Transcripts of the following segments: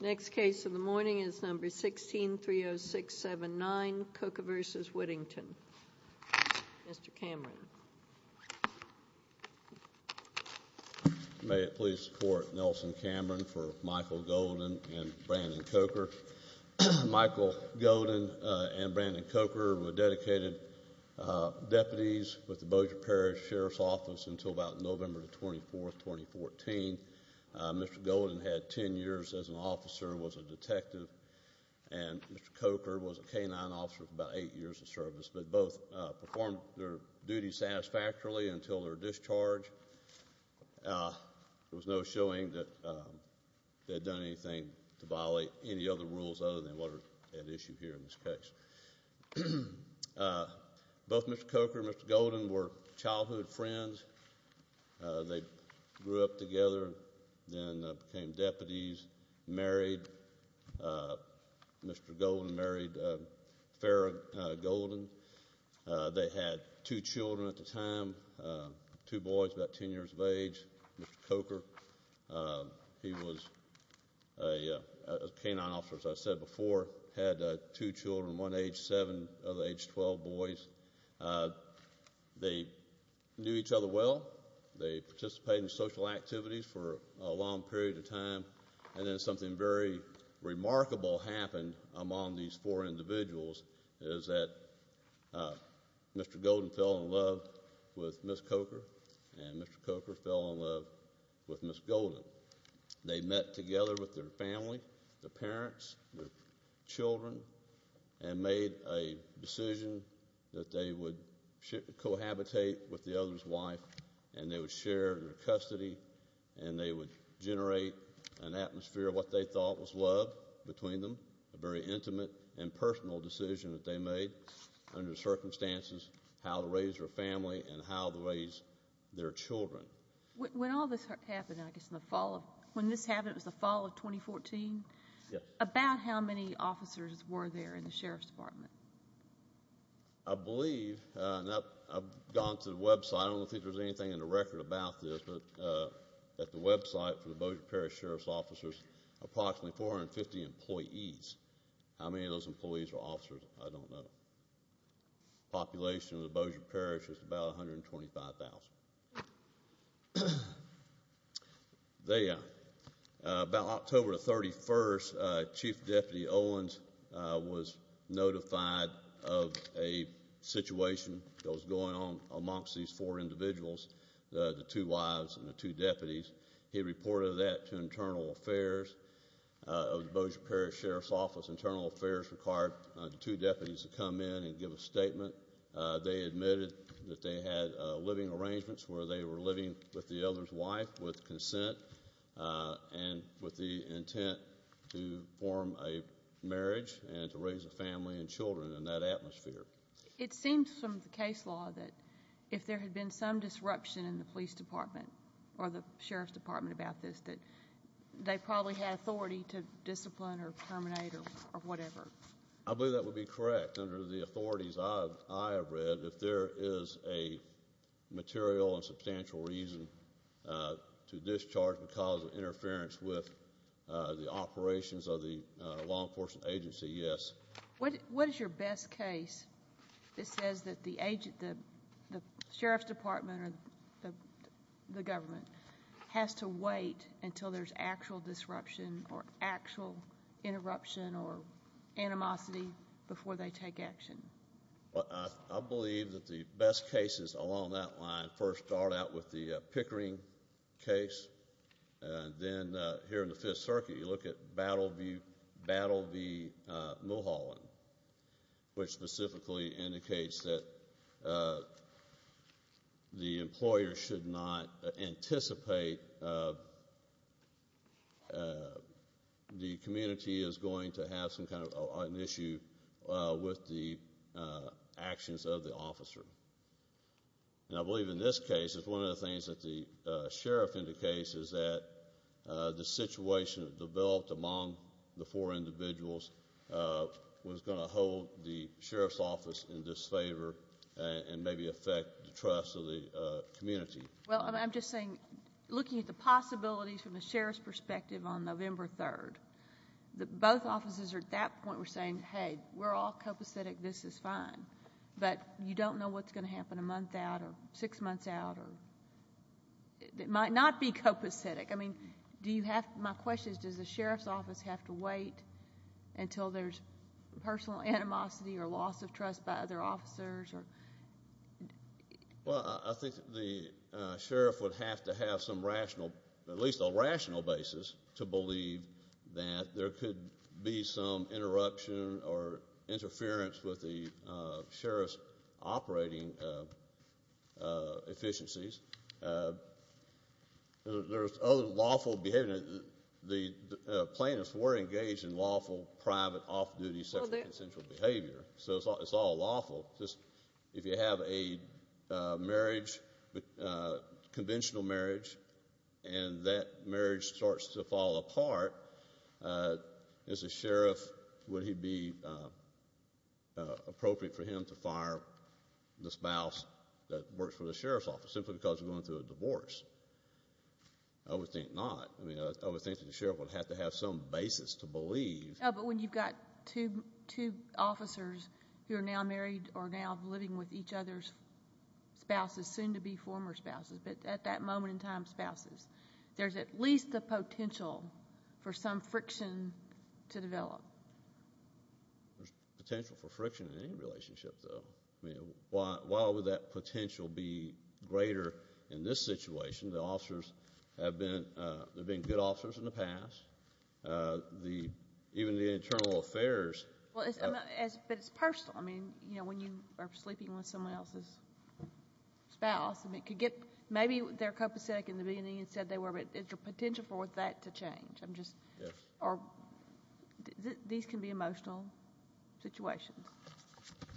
Next case of the morning is number 1630679, Coker v. Whittington. Mr. Cameron. May it please the court, Nelson Cameron for Michael Golden and Brandon Coker. Michael Golden and Brandon Coker were dedicated deputies with the Bossier Parish Sheriff's Office until about November 24, 2014. Mr. Golden had 10 years as an officer, was a detective, and until their discharge. There was no showing that they had done anything to violate any other rules other than what are at issue here in this case. Both Mr. Coker and Mr. Golden were childhood friends. They grew up together, then became deputies, married. Mr. Golden married Farrah Golden. They had two children at the time, two boys about 10 years of age. Mr. Coker, he was a K-9 officer as I said before, had two children, one age 7, the other age 12 boys. They knew each other well. They participated in social activities for a long period of time, and then something very remarkable happened among these four individuals is that Mr. Golden fell in love with Ms. Coker, and Mr. Coker fell in love with Ms. Golden. They met together with their family, their parents, their children, and made a decision that they would cohabitate with the custody, and they would generate an atmosphere of what they thought was love between them, a very intimate and personal decision that they made under circumstances how to raise their family and how to raise their children. When all this happened, I guess in the fall of 2014, about how many officers were there in the Sheriff's Department? I believe, I've gone to the website, I don't think there's anything in the record about this, but at the website for the Bossier Parish Sheriff's Officers, approximately 450 employees. How many of those employees are officers? I don't know. Population of the Bossier Parish is about 125,000. They, about October 31st, Chief Deputy Owens was notified of a situation that was going on amongst these four individuals, the two wives and the two deputies. He reported that to Internal Affairs of the Bossier Parish Sheriff's Office. Internal Affairs required the two deputies to come in and give a statement. They admitted that they had living arrangements where they were living with the other's wife with consent and with the intent to form a marriage and to raise a family and children in that atmosphere. It seems from the case law that if there had been some disruption in the Police Department or the Sheriff's Department about this, that they probably had authority to discipline or terminate or whatever. I believe that would be correct. Under the authorities I have read, if there is a material and substantial reason to discharge because of interference with the operations of the law enforcement agency, yes. What is your best case that says that the agent, the Sheriff's Department or the government has to wait until there's actual disruption or actual interruption or animosity before they take action? I believe that the best cases along that line first start out with the Pickering case. Then here in the Fifth Circuit you look at Battle v. Mulholland, which specifically indicates that the employer should not anticipate the community is going to have some kind of an issue with the actions of the officer. I believe in this case it's one of the things that the Sheriff indicates is that the situation developed among the four individuals was going to hold the Sheriff's Office in disfavor and maybe affect the trust of the community. Well, I'm just saying, looking at the possibilities from the Sheriff's perspective on November 3rd, both offices are at that point saying, hey, we're all copacetic, this is fine. But you don't know what's going to pass out. It might not be copacetic. My question is, does the Sheriff's Office have to wait until there's personal animosity or loss of trust by other officers? Well, I think the Sheriff would have to have some rational, at least a rational basis, to believe that there could be some efficiencies. There's other lawful behavior. The plaintiffs were engaged in lawful, private, off-duty sexual consensual behavior. So it's all lawful. If you have a marriage, conventional marriage, and that marriage starts to fall apart, as a Sheriff, would it be appropriate for him to fire the spouse that works for the Sheriff's Office simply because of going through a divorce? I would think not. I would think that the Sheriff would have to have some basis to believe. But when you've got two officers who are now married or now living with each other's spouses, soon-to-be former spouses, but at that moment in time spouses, there's at least the potential for some friction to develop. There's potential for friction in any relationship, though. Why would that potential be greater in this case? Well, it's personal. I mean, you know, when you are sleeping with someone else's spouse, maybe they're copacetic in the beginning and said they were, but is there potential for that to change? These can be emotional situations.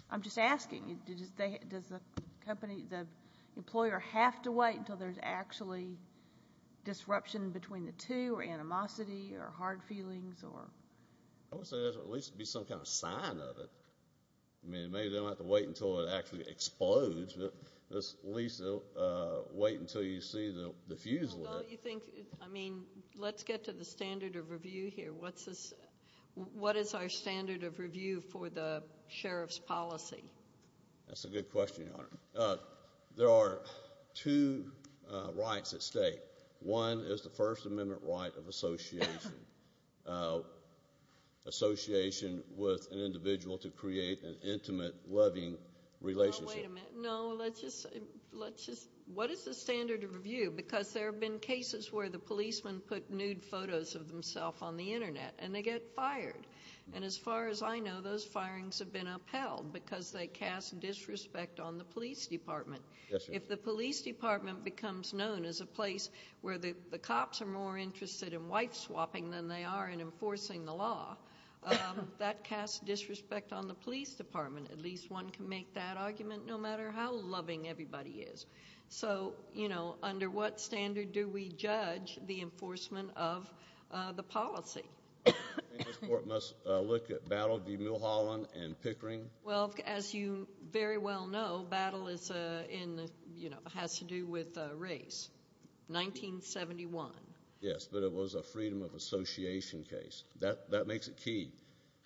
I'm just asking, does the employer have to wait until there's actually disruption between the two, or animosity, or hard feelings? I would say there should at least be some kind of sign of it. I mean, maybe they don't have to wait until it actually explodes, but at least they'll wait until you see the fuse lit. Well, you think, I mean, let's get to the standard of review here. What is our standard of review for the Sheriff's policy? That's a good question, Your Honor. There are two rights at stake. One is the First Amendment right of association, association with an individual to create an intimate, loving relationship. Wait a minute. No, let's just, what is the standard of review? Because there have been cases where the policemen put nude photos of themselves on the internet, and they get fired. And as far as I know, those firings have been upheld because they cast disrespect on the police department. Yes, Your Honor. When the police department becomes known as a place where the cops are more interested in wife-swapping than they are in enforcing the law, that casts disrespect on the police department. At least one can make that argument, no matter how loving everybody is. So, you know, under what standard do we judge the enforcement of the policy? I think this Court must look at Battle v. Mulholland and Pickering. Well, as you very well know, Battle is in, you know, has to do with race. 1971. Yes, but it was a freedom of association case. That makes it key.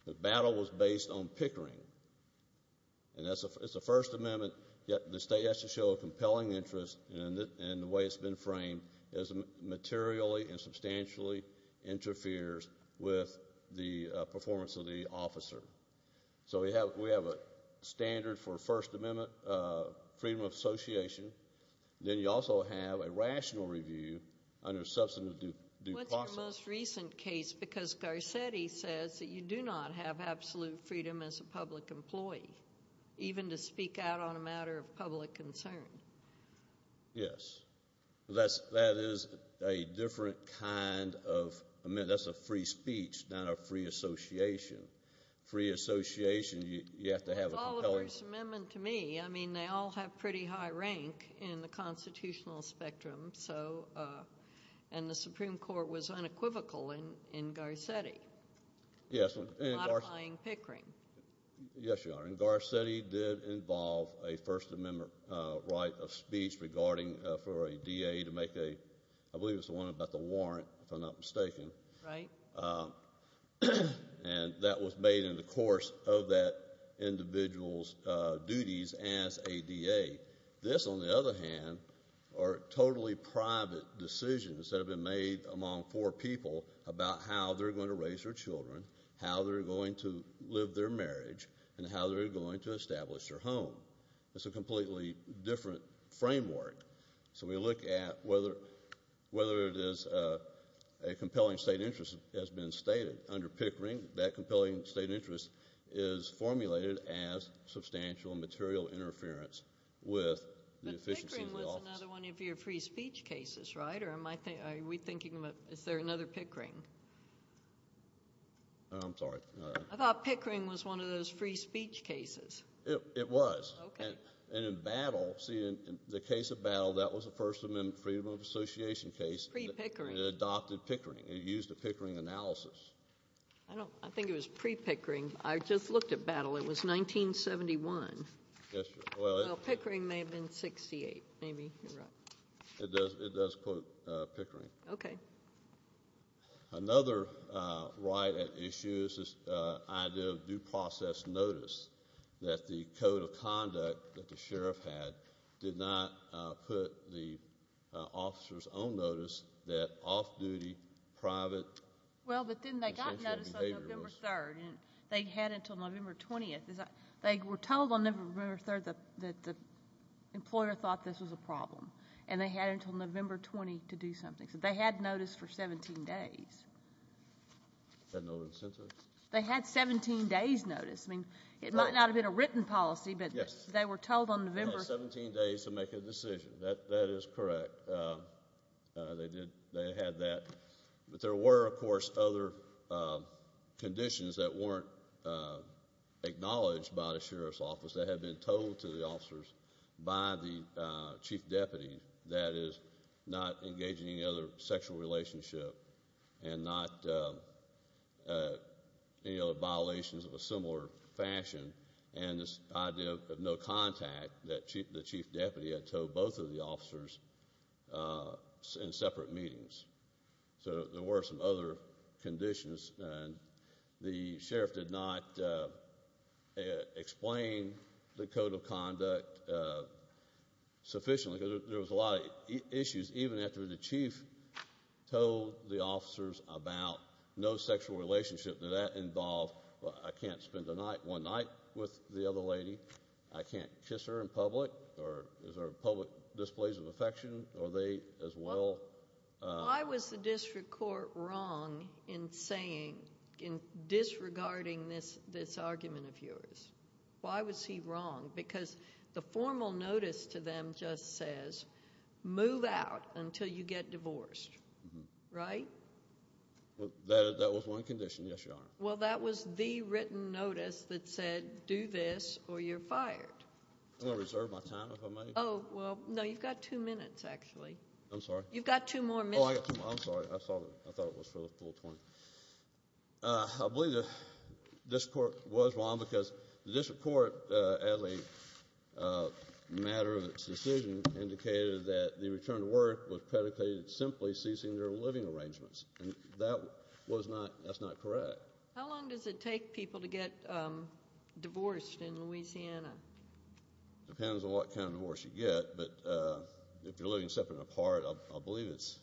The Battle was based on Pickering, and it's a First Amendment, yet the state has to show a compelling interest in the way it's been framed as materially and substantially interferes with the performance of the officer. So we have a standard for First Amendment freedom of association. Then you also have a rational review under substantive due process. What's your most recent case? Because Garcetti says that you do not have absolute freedom as a public employee, even to speak out on a matter of public concern. Yes. That is a different kind of—I mean, that's a free speech, not a free association. Free association, you have to have a compelling— It's all a First Amendment to me. I mean, they all have pretty high rank in the constitutional spectrum, so—and the Supreme Court was unequivocal in Garcetti, modifying Pickering. Yes, Your Honor. And Garcetti did involve a First Amendment right of speech regarding—for a DA to make a—I believe it was the one about the warrant, if I'm not mistaken. Right. And that was made in the course of that individual's duties as a DA. This, on the other hand, are totally private decisions that have been made among four people about how they're going to raise their children, how they're going to live their marriage, and how they're going to establish their home. It's a completely different framework. So we look at whether it is—a compelling state interest has been stated under Pickering. That compelling state interest is formulated as substantial material interference with the efficiency of the office. But Pickering was another one of your free speech cases, right? Or am I thinking—are we thinking about—is there another Pickering? I'm sorry. I thought Pickering was one of those free speech cases. It was. Okay. And in Battle—see, in the case of Battle, that was a First Amendment freedom of association case. Pre-Pickering. It adopted Pickering. It used a Pickering analysis. I don't—I think it was pre-Pickering. I just looked at Battle. It was 1971. Yes, Your Honor. Well, Pickering may have been 68, maybe. You're right. It does quote Pickering. Okay. Another right at issue is this idea of due process notice that the code of conduct that the sheriff had did not put the officer's own notice that off-duty, private— Well, but then they got notice on November 3rd, and they had until November 20th. They were told on November 3rd that the employer thought this was a problem, and they had until November 20th to do something. So they had notice for 17 days. Had no incentive. They had 17 days notice. I mean, it might not have been a written policy, but— Yes. They were told on November— They had 17 days to make a decision. That is correct. They did—they had that, but there were, of course, other conditions that weren't acknowledged by the sheriff's office that had been told to the officers by the chief deputy that is not engaging in any other sexual relationship and not any other violations of a similar fashion, and this idea of no contact that the chief deputy had told both of the officers in separate meetings. So there were some other conditions, and the sheriff did not explain the code of conduct sufficiently. There was a lot of issues even after the chief told the officers about no sexual relationship. Did that involve, well, I can't spend one night with the other lady. I can't kiss her in public, or is there public displays of affection? Are they as well— Why was the district court wrong in saying, in disregarding this argument of yours? Why was he wrong? Because the formal notice to them just says, move out until you get divorced, right? Well, that was the written notice that said, do this or you're fired. I'm going to reserve my time, if I may. Oh, well, no, you've got two minutes, actually. I'm sorry? You've got two more minutes. Oh, I got two more. I'm sorry. I thought it was for the full 20. I believe the district court was wrong because the district court, Adlai, matter of its decision indicated that the return to work was predicated simply ceasing their living arrangements, and that was not—that's not correct. How long does it take people to get divorced in Louisiana? Depends on what kind of divorce you get, but if you're living separate and apart, I believe it's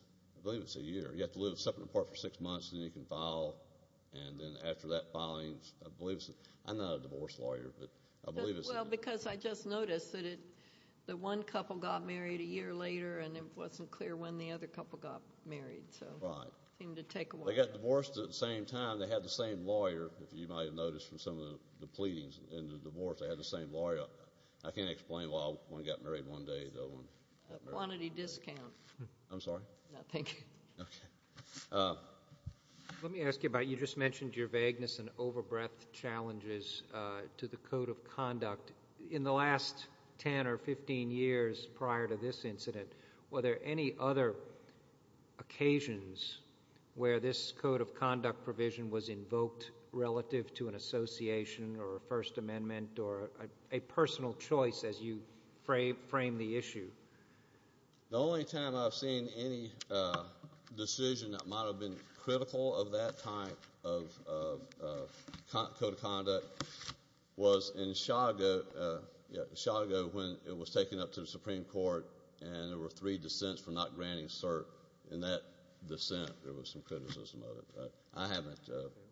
a year. You have to live separate and apart for six months, and then you can file, and then after that filing, I'm not a divorce lawyer, but I believe it's— Well, because I just noticed that the one couple got married a year later, and it wasn't clear when the other couple got married, so it seemed to take a while. They got divorced at the same time. They had the same lawyer, if you might have noticed from some of the pleadings in the divorce, they had the same lawyer. I can't explain why one got married one day, the other one— Quantity discount. I'm sorry? No, thank you. Okay. Let me ask you about—you just mentioned your vagueness and overbreadth challenges to the code of conduct. In the last 10 or 15 years prior to this incident, were there any other occasions where this code of conduct provision was invoked relative to an association or a First Amendment or a personal choice as you framed the issue? The only time I've seen any decision that might have been critical of that type of code of conduct was in Chicago when it was taken up to the Supreme Court and there were three dissents for not granting cert in that dissent. There was some criticism of it, but I haven't—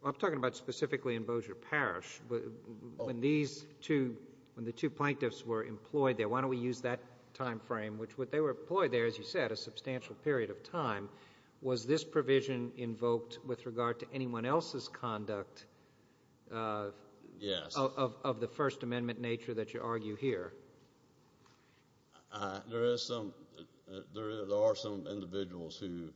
I'm talking about specifically in Bossier Parish. When these two—when the two plaintiffs were employed there, why don't we use that time frame, which they were employed there, as you said, a substantial period of time, was this provision invoked with regard to anyone else's conduct of the First Amendment nature that you argue here? There is some—there are some individuals who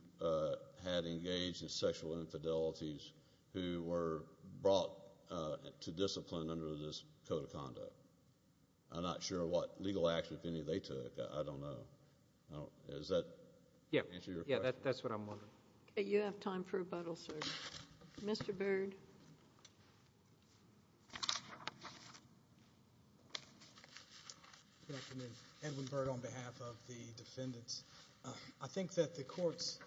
had engaged in sexual infidelities who were brought to discipline under this code of conduct. I'm not sure what legal action, if any, they took. I don't know. Does that answer your question? Yeah, that's what I'm wondering. You have time for rebuttal, sir. Mr. Byrd. Good afternoon. Edwin Byrd on behalf of the defendants. I think that the Court's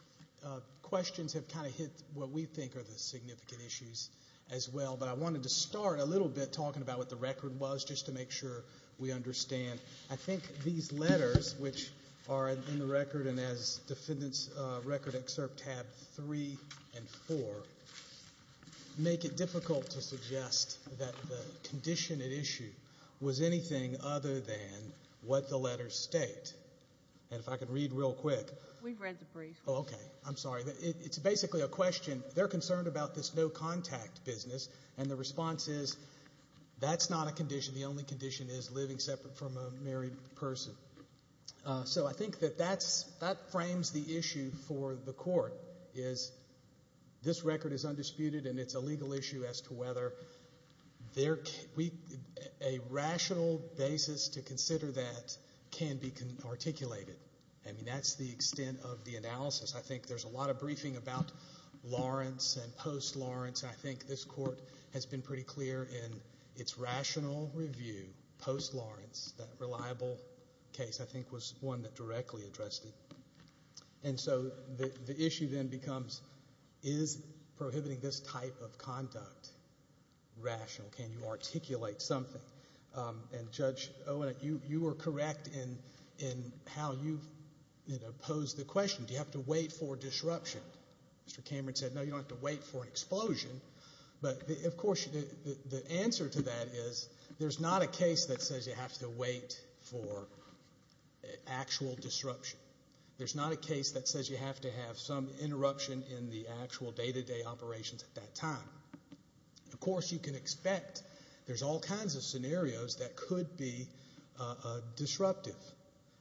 questions have kind of hit what we think are the significant issues as well, but I wanted to start a little bit talking about what the record was just to make sure we understand. I think these letters, which are in the record and as defendants record excerpt tab 3 and 4, make it difficult to suggest that the condition at issue was anything other than what the letters state. And if I could read real quick— We've read the brief. Oh, okay. I'm sorry. It's basically a question—they're concerned about this no-contact business, and the response is that's not a condition. The only condition is living separate from a married person. So I think that that frames the issue for the Court, is this record is undisputed and it's a legal issue as to whether a rational basis to consider that can be articulated. I mean, that's the extent of the analysis. I think there's a lot of briefing about Lawrence and post-Lawrence. I think this Court has been pretty clear in its rational review post-Lawrence. That reliable case, I think, was one that directly addressed it. And so the issue then becomes, is prohibiting this type of conduct rational? Can you articulate something? And Judge Owen, you were correct in how you posed the question. Do you have to wait for disruption? Mr. Cameron said, no, you don't have to wait for an explosion. But of course, the answer to that is there's not a case that says you have to wait for actual disruption. There's not a case that says you have to have some interruption in the actual day-to-day operations at that time. Of course, you can expect there's all kinds of scenarios that could be disruptive.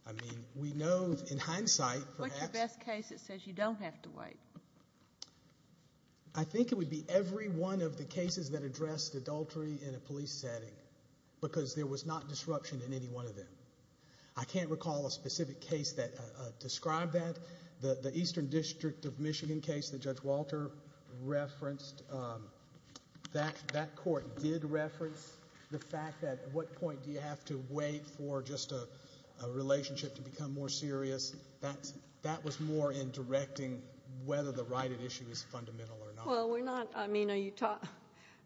I mean, we know in hindsight— What's the best case that says you don't have to wait? I think it would be every one of the cases that addressed adultery in a police setting, because there was not disruption in any one of them. I can't recall a specific case that described that. The Eastern District of Michigan case that Judge Walter referenced, that Court did reference the fact that at what point do you have to wait for just a relationship to become more serious? That was more in directing whether the right at issue is fundamental or not.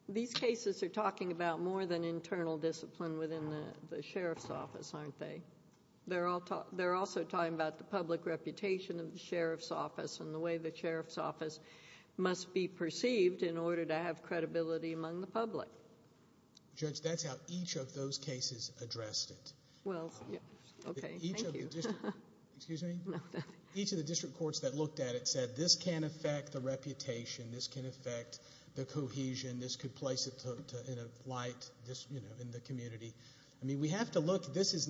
These cases are talking about more than internal discipline within the Sheriff's Office, aren't they? They're also talking about the public reputation of the Sheriff's Office and the way the Sheriff's Office must be perceived in order to have credibility among the public. Judge, that's how each of those cases addressed it. Each of the district courts that looked at it said this can affect the reputation, this can affect the cohesion, this could place it in a light in the community. I mean, we have to look. These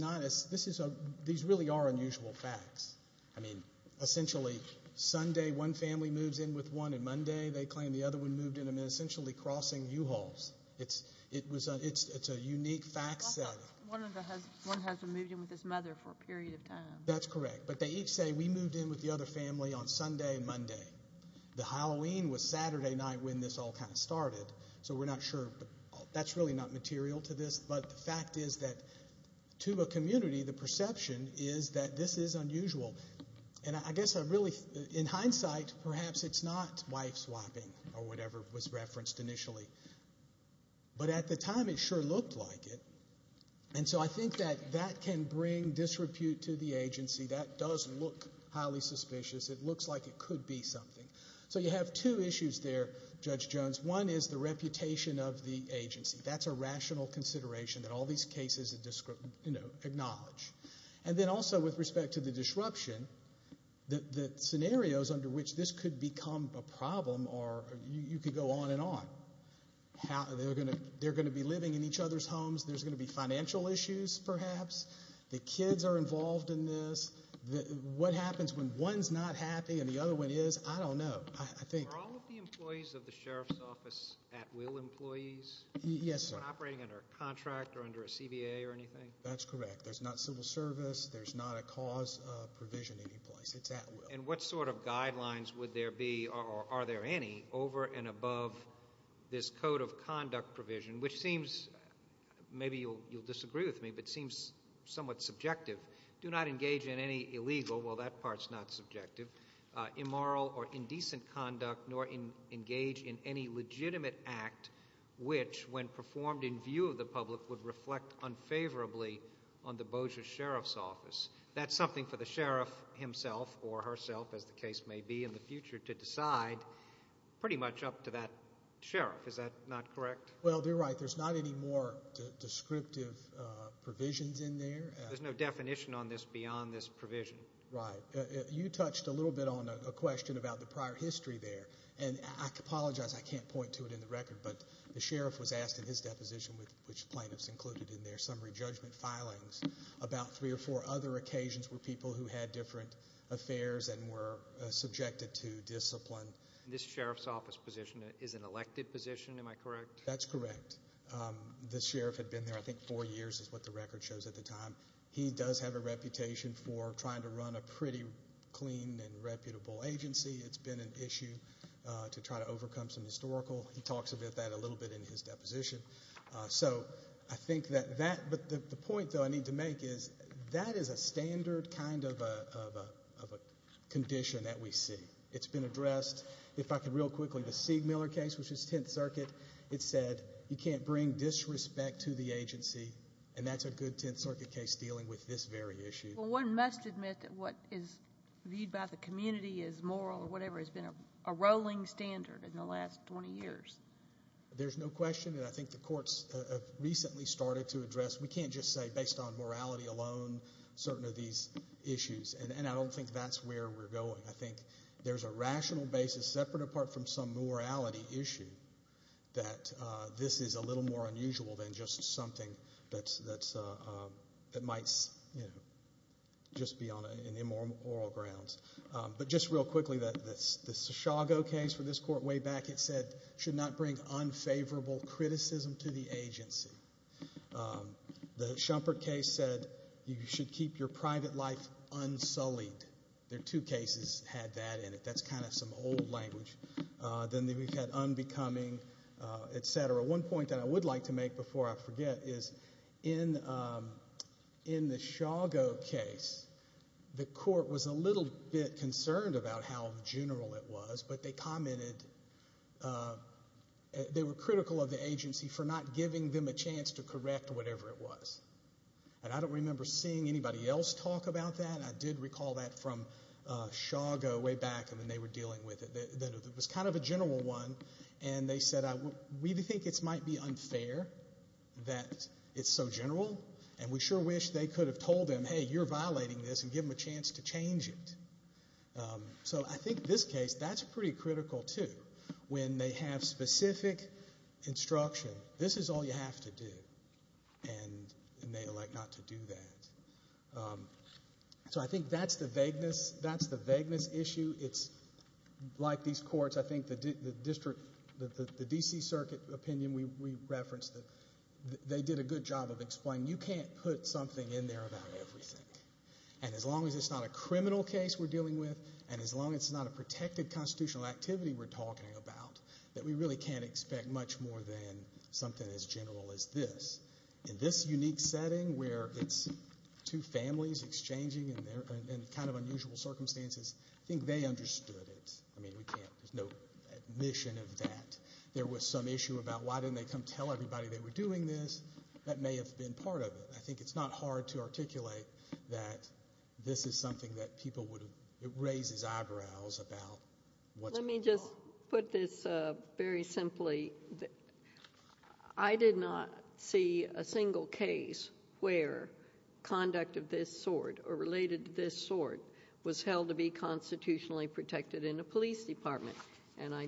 really are unusual facts. I mean, essentially, Sunday, one family moves in with one, and Monday, they claim the other one moved in, essentially crossing U-Hauls. It's a unique fact set. One husband moved in with his mother for a period of time. That's correct, but they each say we moved in with the other family on Sunday and Monday. The Halloween was Saturday night when this all kind of started, so we're not sure. That's really not material to this, but the fact is that to a community, the perception is that this is unusual, and I guess I really, in hindsight, perhaps it's not wife swapping or whatever was referenced initially, but at the time, it sure looked like it, and so I think that that can bring disrepute to the agency. That does look highly suspicious. It looks like it could be something, so you have two issues there, Judge Jones. One is the reputation of the agency. That's a rational consideration that all these cases acknowledge, and then also with respect to the disruption, the scenarios under which this could become a problem, or you could go on and on. They're going to be living in each other's homes. There's going to be financial issues, perhaps. The kids are involved in this. What happens when one's not happy and the other one is? I don't know. Are all of the employees of the Sheriff's Office at will employees? Yes, sir. Operating under a contract or under a CBA or anything? That's correct. There's not a cause provision any place. It's at will. And what sort of guidelines would there be, or are there any, over and above this code of conduct provision, which seems, maybe you'll disagree with me, but seems somewhat subjective. Do not engage in any illegal, well, that part's not subjective, immoral or indecent conduct, nor engage in any legitimate act which, when performed in view of the public, would reflect unfavorably on the Bossier Sheriff's Office. That's something for the Sheriff himself or herself, as the case may be in the future, to decide, pretty much up to that Sheriff. Is that not correct? Well, you're right. There's not any more descriptive provisions in there. There's no definition on this beyond this provision. Right. You touched a little bit on a question about the prior history there, and I apologize I can't point to it in the record, but the Sheriff was asked in his deposition, which plaintiffs included in their summary judgment filings, about three or four other occasions where people who had different affairs and were subjected to discipline. This Sheriff's Office position is an elected position, am I correct? That's correct. The Sheriff had been there, I think, four years is what the record shows at the time. He does have a reputation for trying to run a pretty clean and reputable agency. It's been an issue to try to overcome some historical. He talks about that a little bit in his deposition. So, I think that that, but the point, though, I need to make is that is a standard kind of a condition that we see. It's been addressed. If I could real quickly, the Siegmiller case, which is Tenth Circuit, it said you can't bring disrespect to the agency, and that's a good Tenth Circuit case dealing with this very issue. Well, one must admit that what is viewed by the community as moral or whatever has been a rolling standard in the last 20 years. There's no question that I think the courts have recently started to address. We can't just say based on morality alone certain of these issues, and I don't think that's where we're going. I think there's a rational basis separate apart from some morality issue that this is a little more unusual than just something that might just be on an immoral grounds. But just real quickly, the Shago case for this court way back, it said should not bring unfavorable criticism to the agency. The Shumpert case said you should keep your private life unsullied. Their two cases had that in it. That's kind of some old language. Then we've had unbecoming, et cetera. One point that I would like to make before I forget is in the Shago case, the court was a little bit general it was, but they commented they were critical of the agency for not giving them a chance to correct whatever it was. I don't remember seeing anybody else talk about that. I did recall that from Shago way back, and then they were dealing with it. It was kind of a general one, and they said we think it might be unfair that it's so general, and we sure wish they could have told them, hey, you're violating this, and give them a chance to change it. So I think this case, that's pretty critical, too. When they have specific instruction, this is all you have to do, and they elect not to do that. So I think that's the vagueness issue. It's like these courts. I think the district, the D.C. Circuit opinion we referenced, they did a good job of explaining you can't put something in there about everything, and as long as it's not a criminal case we're dealing with, and as long as it's not a protected constitutional activity we're talking about, that we really can't expect much more than something as general as this. In this unique setting where it's two families exchanging in kind of unusual circumstances, I think they understood it. I mean, there's no admission of that. There was some issue about why didn't they come tell everybody they were doing this. That may have been part of it. I think it's not hard to articulate that this is something that people would have, it raises eyebrows about what's going on. Let me just put this very simply. I did not see a single case where conduct of this sort, or related to this sort, was held to be constitutionally protected in a police department, and I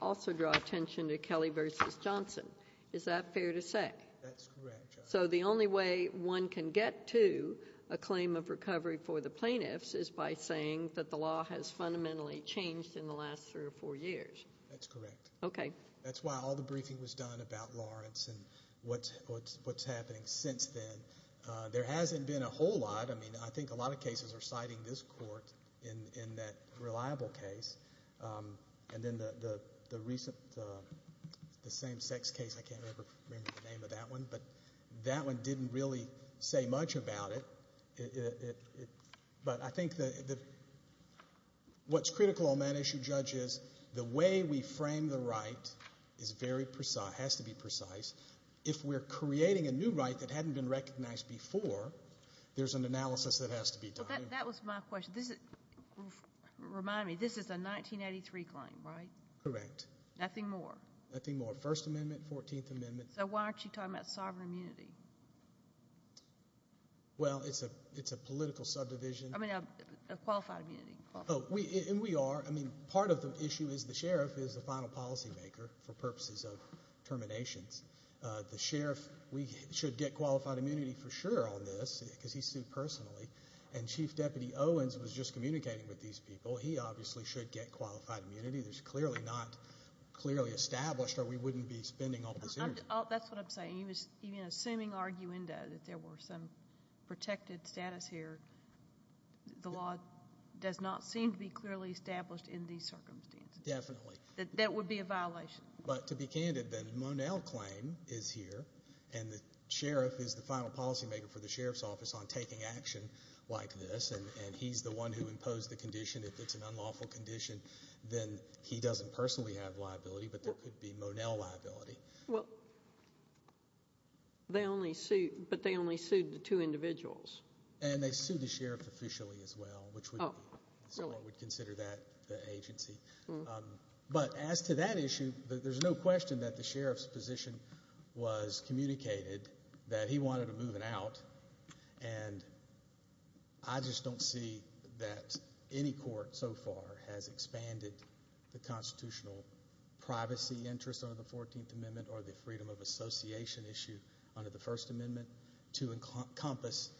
also draw attention to Kelly v. Johnson. Is that fair to say? That's correct. So the only way one can get to a claim of recovery for the plaintiffs is by saying that the law has fundamentally changed in the last three or four years? That's correct. Okay. That's why all the briefing was done about Lawrence and what's happening since then. There hasn't been a whole lot. I mean, I think a lot of cases are reliable cases, and then the recent same-sex case, I can't remember the name of that one, but that one didn't really say much about it. But I think what's critical on that issue, Judge, is the way we frame the right has to be precise. If we're creating a new right that hadn't been recognized before, there's an analysis that has to be done. That was my question. Remind me, this is a 1983 claim, right? Correct. Nothing more? Nothing more. First Amendment, Fourteenth Amendment. So why aren't you talking about sovereign immunity? Well, it's a political subdivision. I mean, a qualified immunity. Oh, and we are. I mean, part of the issue is the sheriff is the final policymaker for purposes of terminations. The sheriff, we should get qualified immunity for sure on this, because he's sued personally, and Chief Deputy Owens was just communicating with these people. He obviously should get qualified immunity. There's clearly not clearly established, or we wouldn't be spending all this energy. That's what I'm saying. He was even assuming arguendo that there were some protected status here. The law does not seem to be clearly established in these circumstances. Definitely. That would be a violation. But to be candid, then, the Monell claim is here, and the sheriff is the final policymaker for the sheriff's office on taking action like this, and he's the one who imposed the condition. If it's an unlawful condition, then he doesn't personally have liability, but there could be Monell liability. Well, but they only sued the two individuals. And they sued the sheriff officially as well, which we would consider that the agency. But as to that issue, there's no question that the sheriff communicated that he wanted to move it out, and I just don't see that any court so far has expanded the constitutional privacy interest under the 14th Amendment or the freedom of association issue under the First Amendment to encompass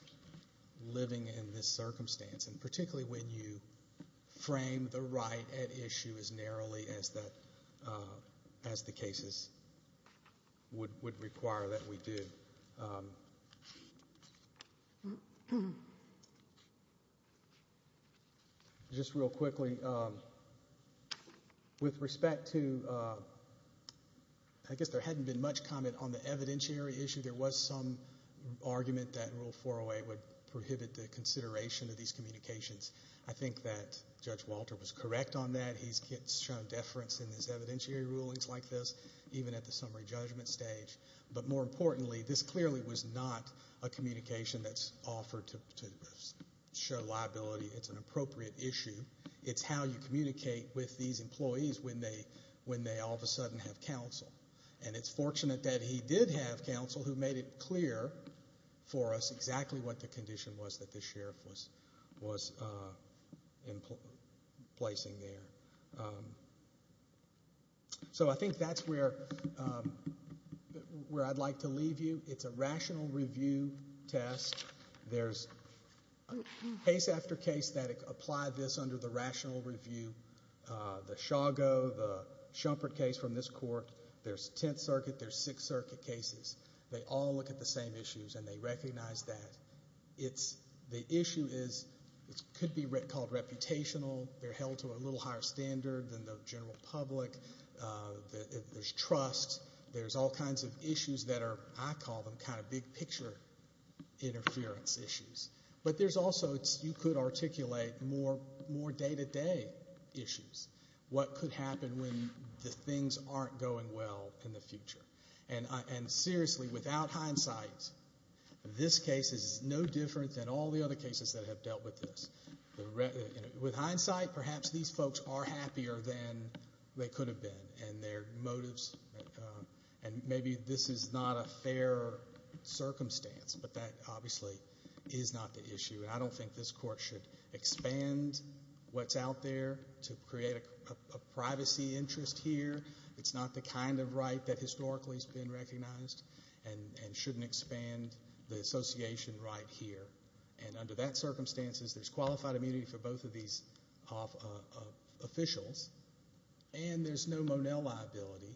living in this circumstance, and particularly when you frame the right at issue as narrowly as the cases would require that we do. Just real quickly, with respect to, I guess there hadn't been much comment on the evidentiary issue. There was some argument that Rule 408 would prohibit the consideration of these communications. I think that Judge Walter was correct on that. He's shown deference in his evidentiary rulings like this, even at the summary judgment stage. But more importantly, this clearly was not a communication that's offered to show liability. It's an appropriate issue. It's how you communicate with these employees when they all of a sudden have counsel. And it's fortunate that he did have counsel who made it clear for us exactly what the condition was that the sheriff was placing there. So I think that's where I'd like to leave you. It's a rational review test. There's case after case that apply this under the rational review. The Chago, the Shumpert case from this court, there's Tenth Circuit, there's Sixth Circuit cases. They all look at the same issues and they recognize that. The issue could be called reputational. They're held to a little higher standard than the general public. There's trust. There's all kinds of issues that are, I call them, kind of big picture interference issues. But there's also, you could articulate more day-to-day issues. What could happen when the things aren't going well in the future? And seriously, without hindsight, this case is no different than all the other cases that have dealt with this. With hindsight, perhaps these folks are happier than they could have been in their motives. And maybe this is not a fair circumstance, but that obviously is not the issue. And I don't think this court should expand what's out there to create a privacy interest here. It's not the kind of right that historically has been recognized and shouldn't expand the association right here. And under that circumstances, there's qualified immunity for both of these officials. And there's no Monell liability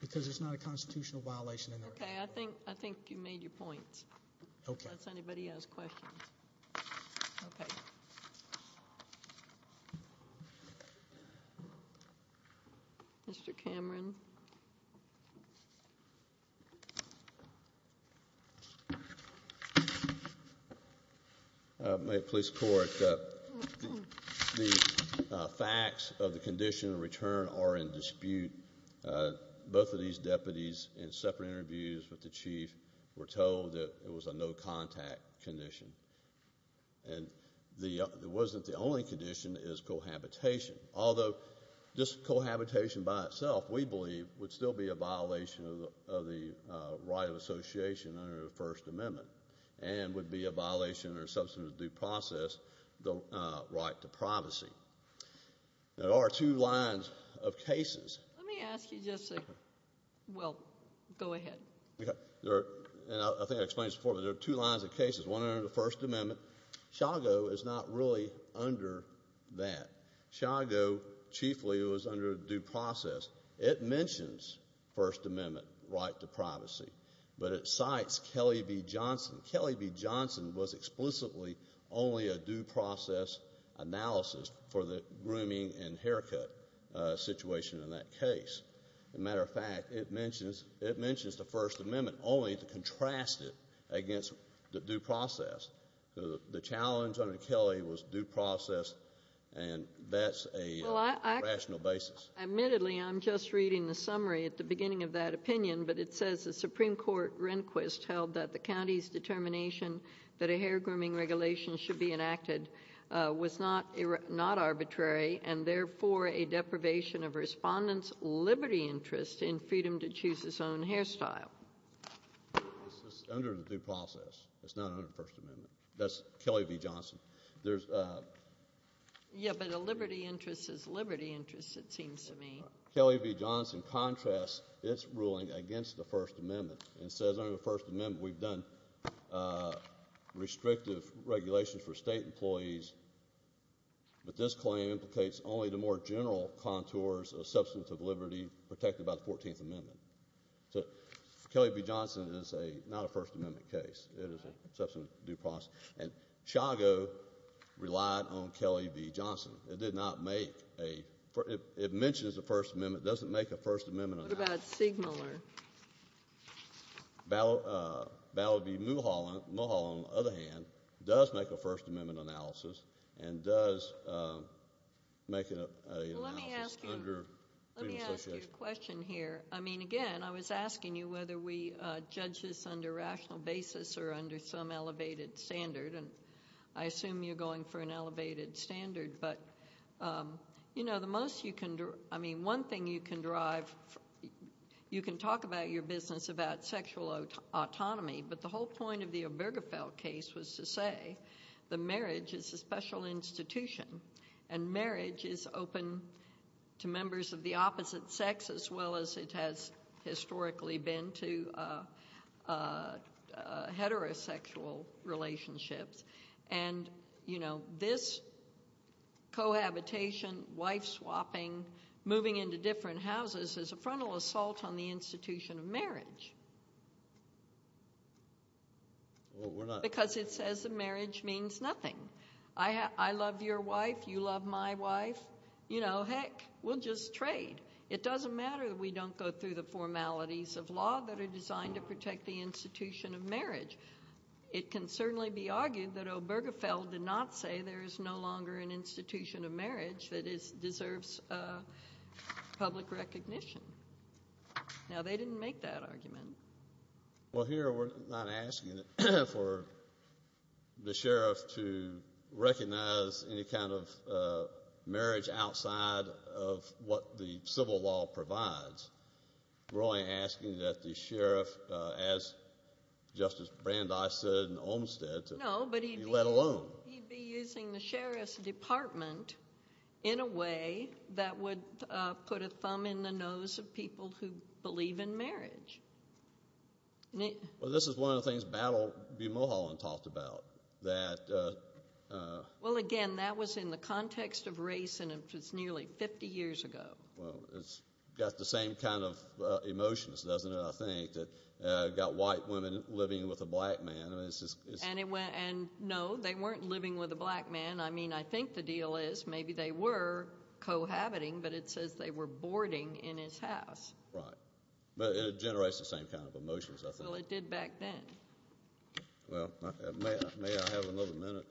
because there's not a constitutional violation. Okay. I think you made your point. Unless anybody has questions. Okay. Mr. Cameron. My police court, the facts of the condition of return are in dispute. Both of these deputies in separate interviews with the chief were told that it was a no-contact condition. And it wasn't the only condition is cohabitation. Although this cohabitation by itself, we believe, would still be a violation of the right of association under the First Amendment and would be a violation or substance of due process, the right to privacy. There are two lines of cases. Let me ask you just a... Well, go ahead. And I think I explained this before, but there are two lines of cases. One under the First Amendment. Shago is not really under that. Shago, chiefly, was under due process. It mentions First Amendment right to privacy, but it cites Kelly v. Johnson. Kelly v. Johnson was explicitly only a due process analysis for the grooming and haircut situation in that case. As a matter of fact, it mentions the First Amendment only to contrast it against the due process. The challenge under Kelly was due process, and that's a rational basis. Admittedly, I'm just reading the summary at the beginning of that opinion, but it says Supreme Court Rehnquist held that the county's determination that a hair grooming regulation should be enacted was not arbitrary and therefore a deprivation of respondents' liberty interest in freedom to choose his own hairstyle. This is under the due process. It's not under the First Amendment. That's Kelly v. Johnson. Yeah, but a liberty interest is liberty interest, it seems to me. Kelly v. Johnson contrasts its ruling against the First Amendment and says under the First Amendment we've done restrictive regulations for state employees, but this claim implicates only the more general contours of substantive liberty protected by the 14th Amendment. Kelly v. Johnson is not a First Amendment case. It is a substantive due process, and Shago relied on Kelly v. Johnson. It did not make a, it mentions the First Amendment, doesn't make a First Amendment analysis. What about Sigmiller? Ballot v. Mulholland, Mulholland on the other hand, does make a First Amendment analysis and does make an analysis under freedom of association. Let me ask you a question here. I mean, again, I was asking you whether we judge this under rational basis or under some elevated standard, and I assume you're going for an elevated standard, but, you know, the most you can, I mean, one thing you can derive, you can talk about your business about sexual autonomy, but the whole point of the Obergefell case was to say the marriage is a special institution, and marriage is open to members of the opposite sex as well as it has historically been to heterosexual relationships, and, you know, this cohabitation, wife swapping, moving into different houses is a frontal assault on the institution of marriage. Well, we're not. Because it says that marriage means nothing. I love your wife, you love my wife, you know, heck, we'll just trade. It doesn't matter that we don't go through the formalities of law that are designed to protect the institution of marriage. It can certainly be argued that Obergefell did not say there is no longer an institution of marriage that deserves public recognition. Now, they didn't make that argument. Well, here we're not asking for the sheriff to recognize any kind of marriage outside of what the civil law provides. We're only asking that the sheriff, as Justice Brandeis said in Olmstead, to be let alone. No, but he'd be using the sheriff's department in a way that would put a thumb in the nose of people who believe in marriage. Well, this is one of the things Battle v. Mulholland talked about. Well, again, that was in the context of race, and it was nearly 50 years ago. Well, it's got the same kind of emotions, doesn't it, I think, that got white women living with a black man. No, they weren't living with a black man. I mean, I think the deal is maybe they were cohabiting, but it says they were boarding in his house. Right. But it generates the same kind of emotions, I think. Well, it did back then. Well, may I have another minute?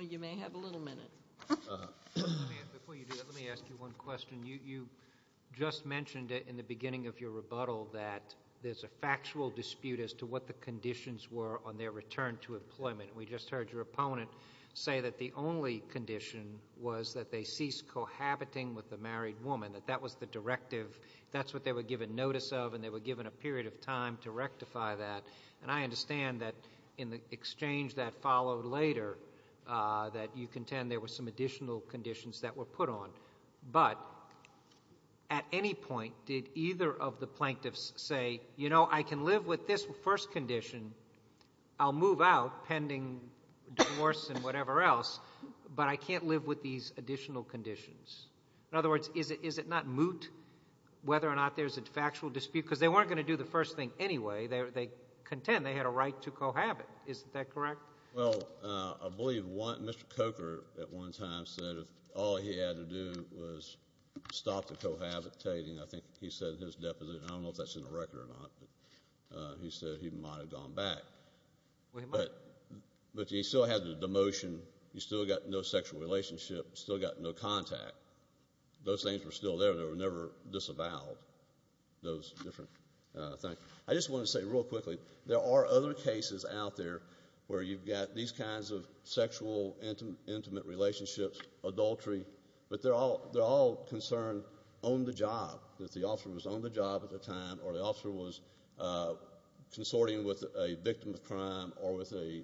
You may have a little minute. Before you do that, let me ask you one question. You just mentioned it in the beginning of your rebuttal that there's a factual dispute as to what the conditions were on their return to employment. We just heard your opponent say that the only condition was that they ceased cohabiting with the married woman, that that was the directive. That's what they were given notice of, and they were given a period of time to rectify that. And I understand that in the exchange that followed later, that you contend there were some additional conditions that were put on. But at any point, did either of the plaintiffs say, you know, I can live with this first condition. I'll move out pending divorce and whatever else, but I can't live with these additional conditions. In other words, is it not moot whether or not there's a factual dispute? Because they weren't going to do the first thing anyway. They contend they had a right to cohabit. Is that correct? Well, I believe Mr. Coker at one time said all he had to do was stop the cohabitating. I think he said in his deposition, I don't know if that's in the record or not, but he said he might have gone back. But he still had the demotion. He still got no sexual relationship, still got no contact. Those things were still there. They were never disavowed. Those different things. I just wanted to say real quickly, there are other cases out there where you've got these kinds of sexual intimate relationships, adultery, but they're all concerned on the job, that the officer was on the job at the time or the officer was consorting with a victim of crime or with a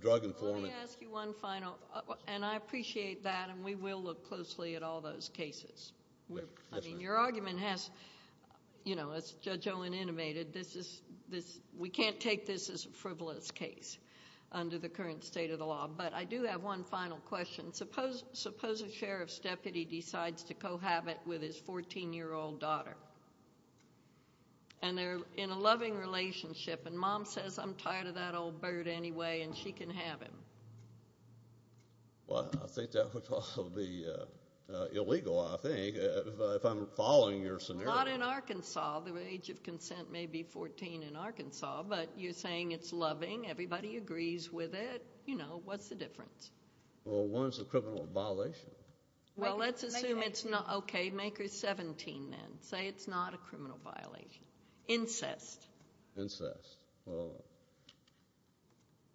drug informant. Let me ask you one final, and I appreciate that, we will look closely at all those cases. Your argument has, as Judge Owen intimated, we can't take this as a frivolous case under the current state of the law. But I do have one final question. Suppose a sheriff's deputy decides to cohabit with his 14-year-old daughter, and they're in a loving relationship, and mom says, I'm tired of that old bird anyway, and she can have him. Well, I think that would also be illegal, I think, if I'm following your scenario. Not in Arkansas. The age of consent may be 14 in Arkansas, but you're saying it's loving, everybody agrees with it, you know, what's the difference? Well, one's a criminal violation. Well, let's assume it's not, okay, make her 17 then. Say it's not a criminal violation. Incest. Incest. Well,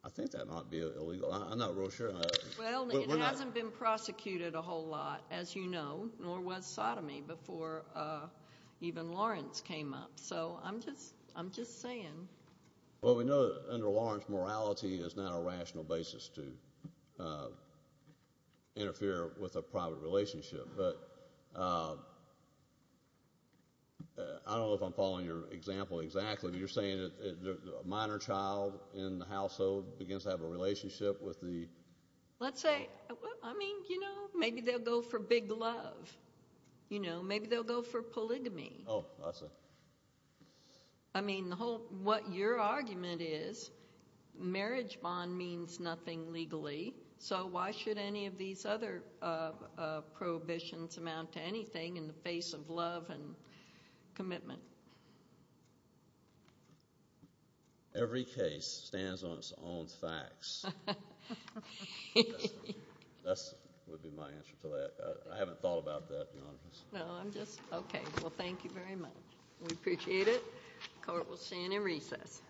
I think that might be illegal. I'm not real sure. Well, it hasn't been prosecuted a whole lot, as you know, nor was sodomy before even Lawrence came up. So I'm just saying. Well, we know under Lawrence, morality is not a rational basis to interfere with a private relationship. But I don't know if I'm following your example exactly, but you're saying a minor child in the household begins to have a relationship with the. Let's say, I mean, you know, maybe they'll go for big love, you know, maybe they'll go for polygamy. Oh, I see. I mean, the whole, what your argument is, marriage bond means nothing legally, so why should any of these other prohibitions amount to anything in the face of love and commitment? Every case stands on its own facts. That would be my answer to that. I haven't thought about that, Your Honor. No, I'm just, okay. Well, thank you very much. We appreciate it. Court will stand in recess.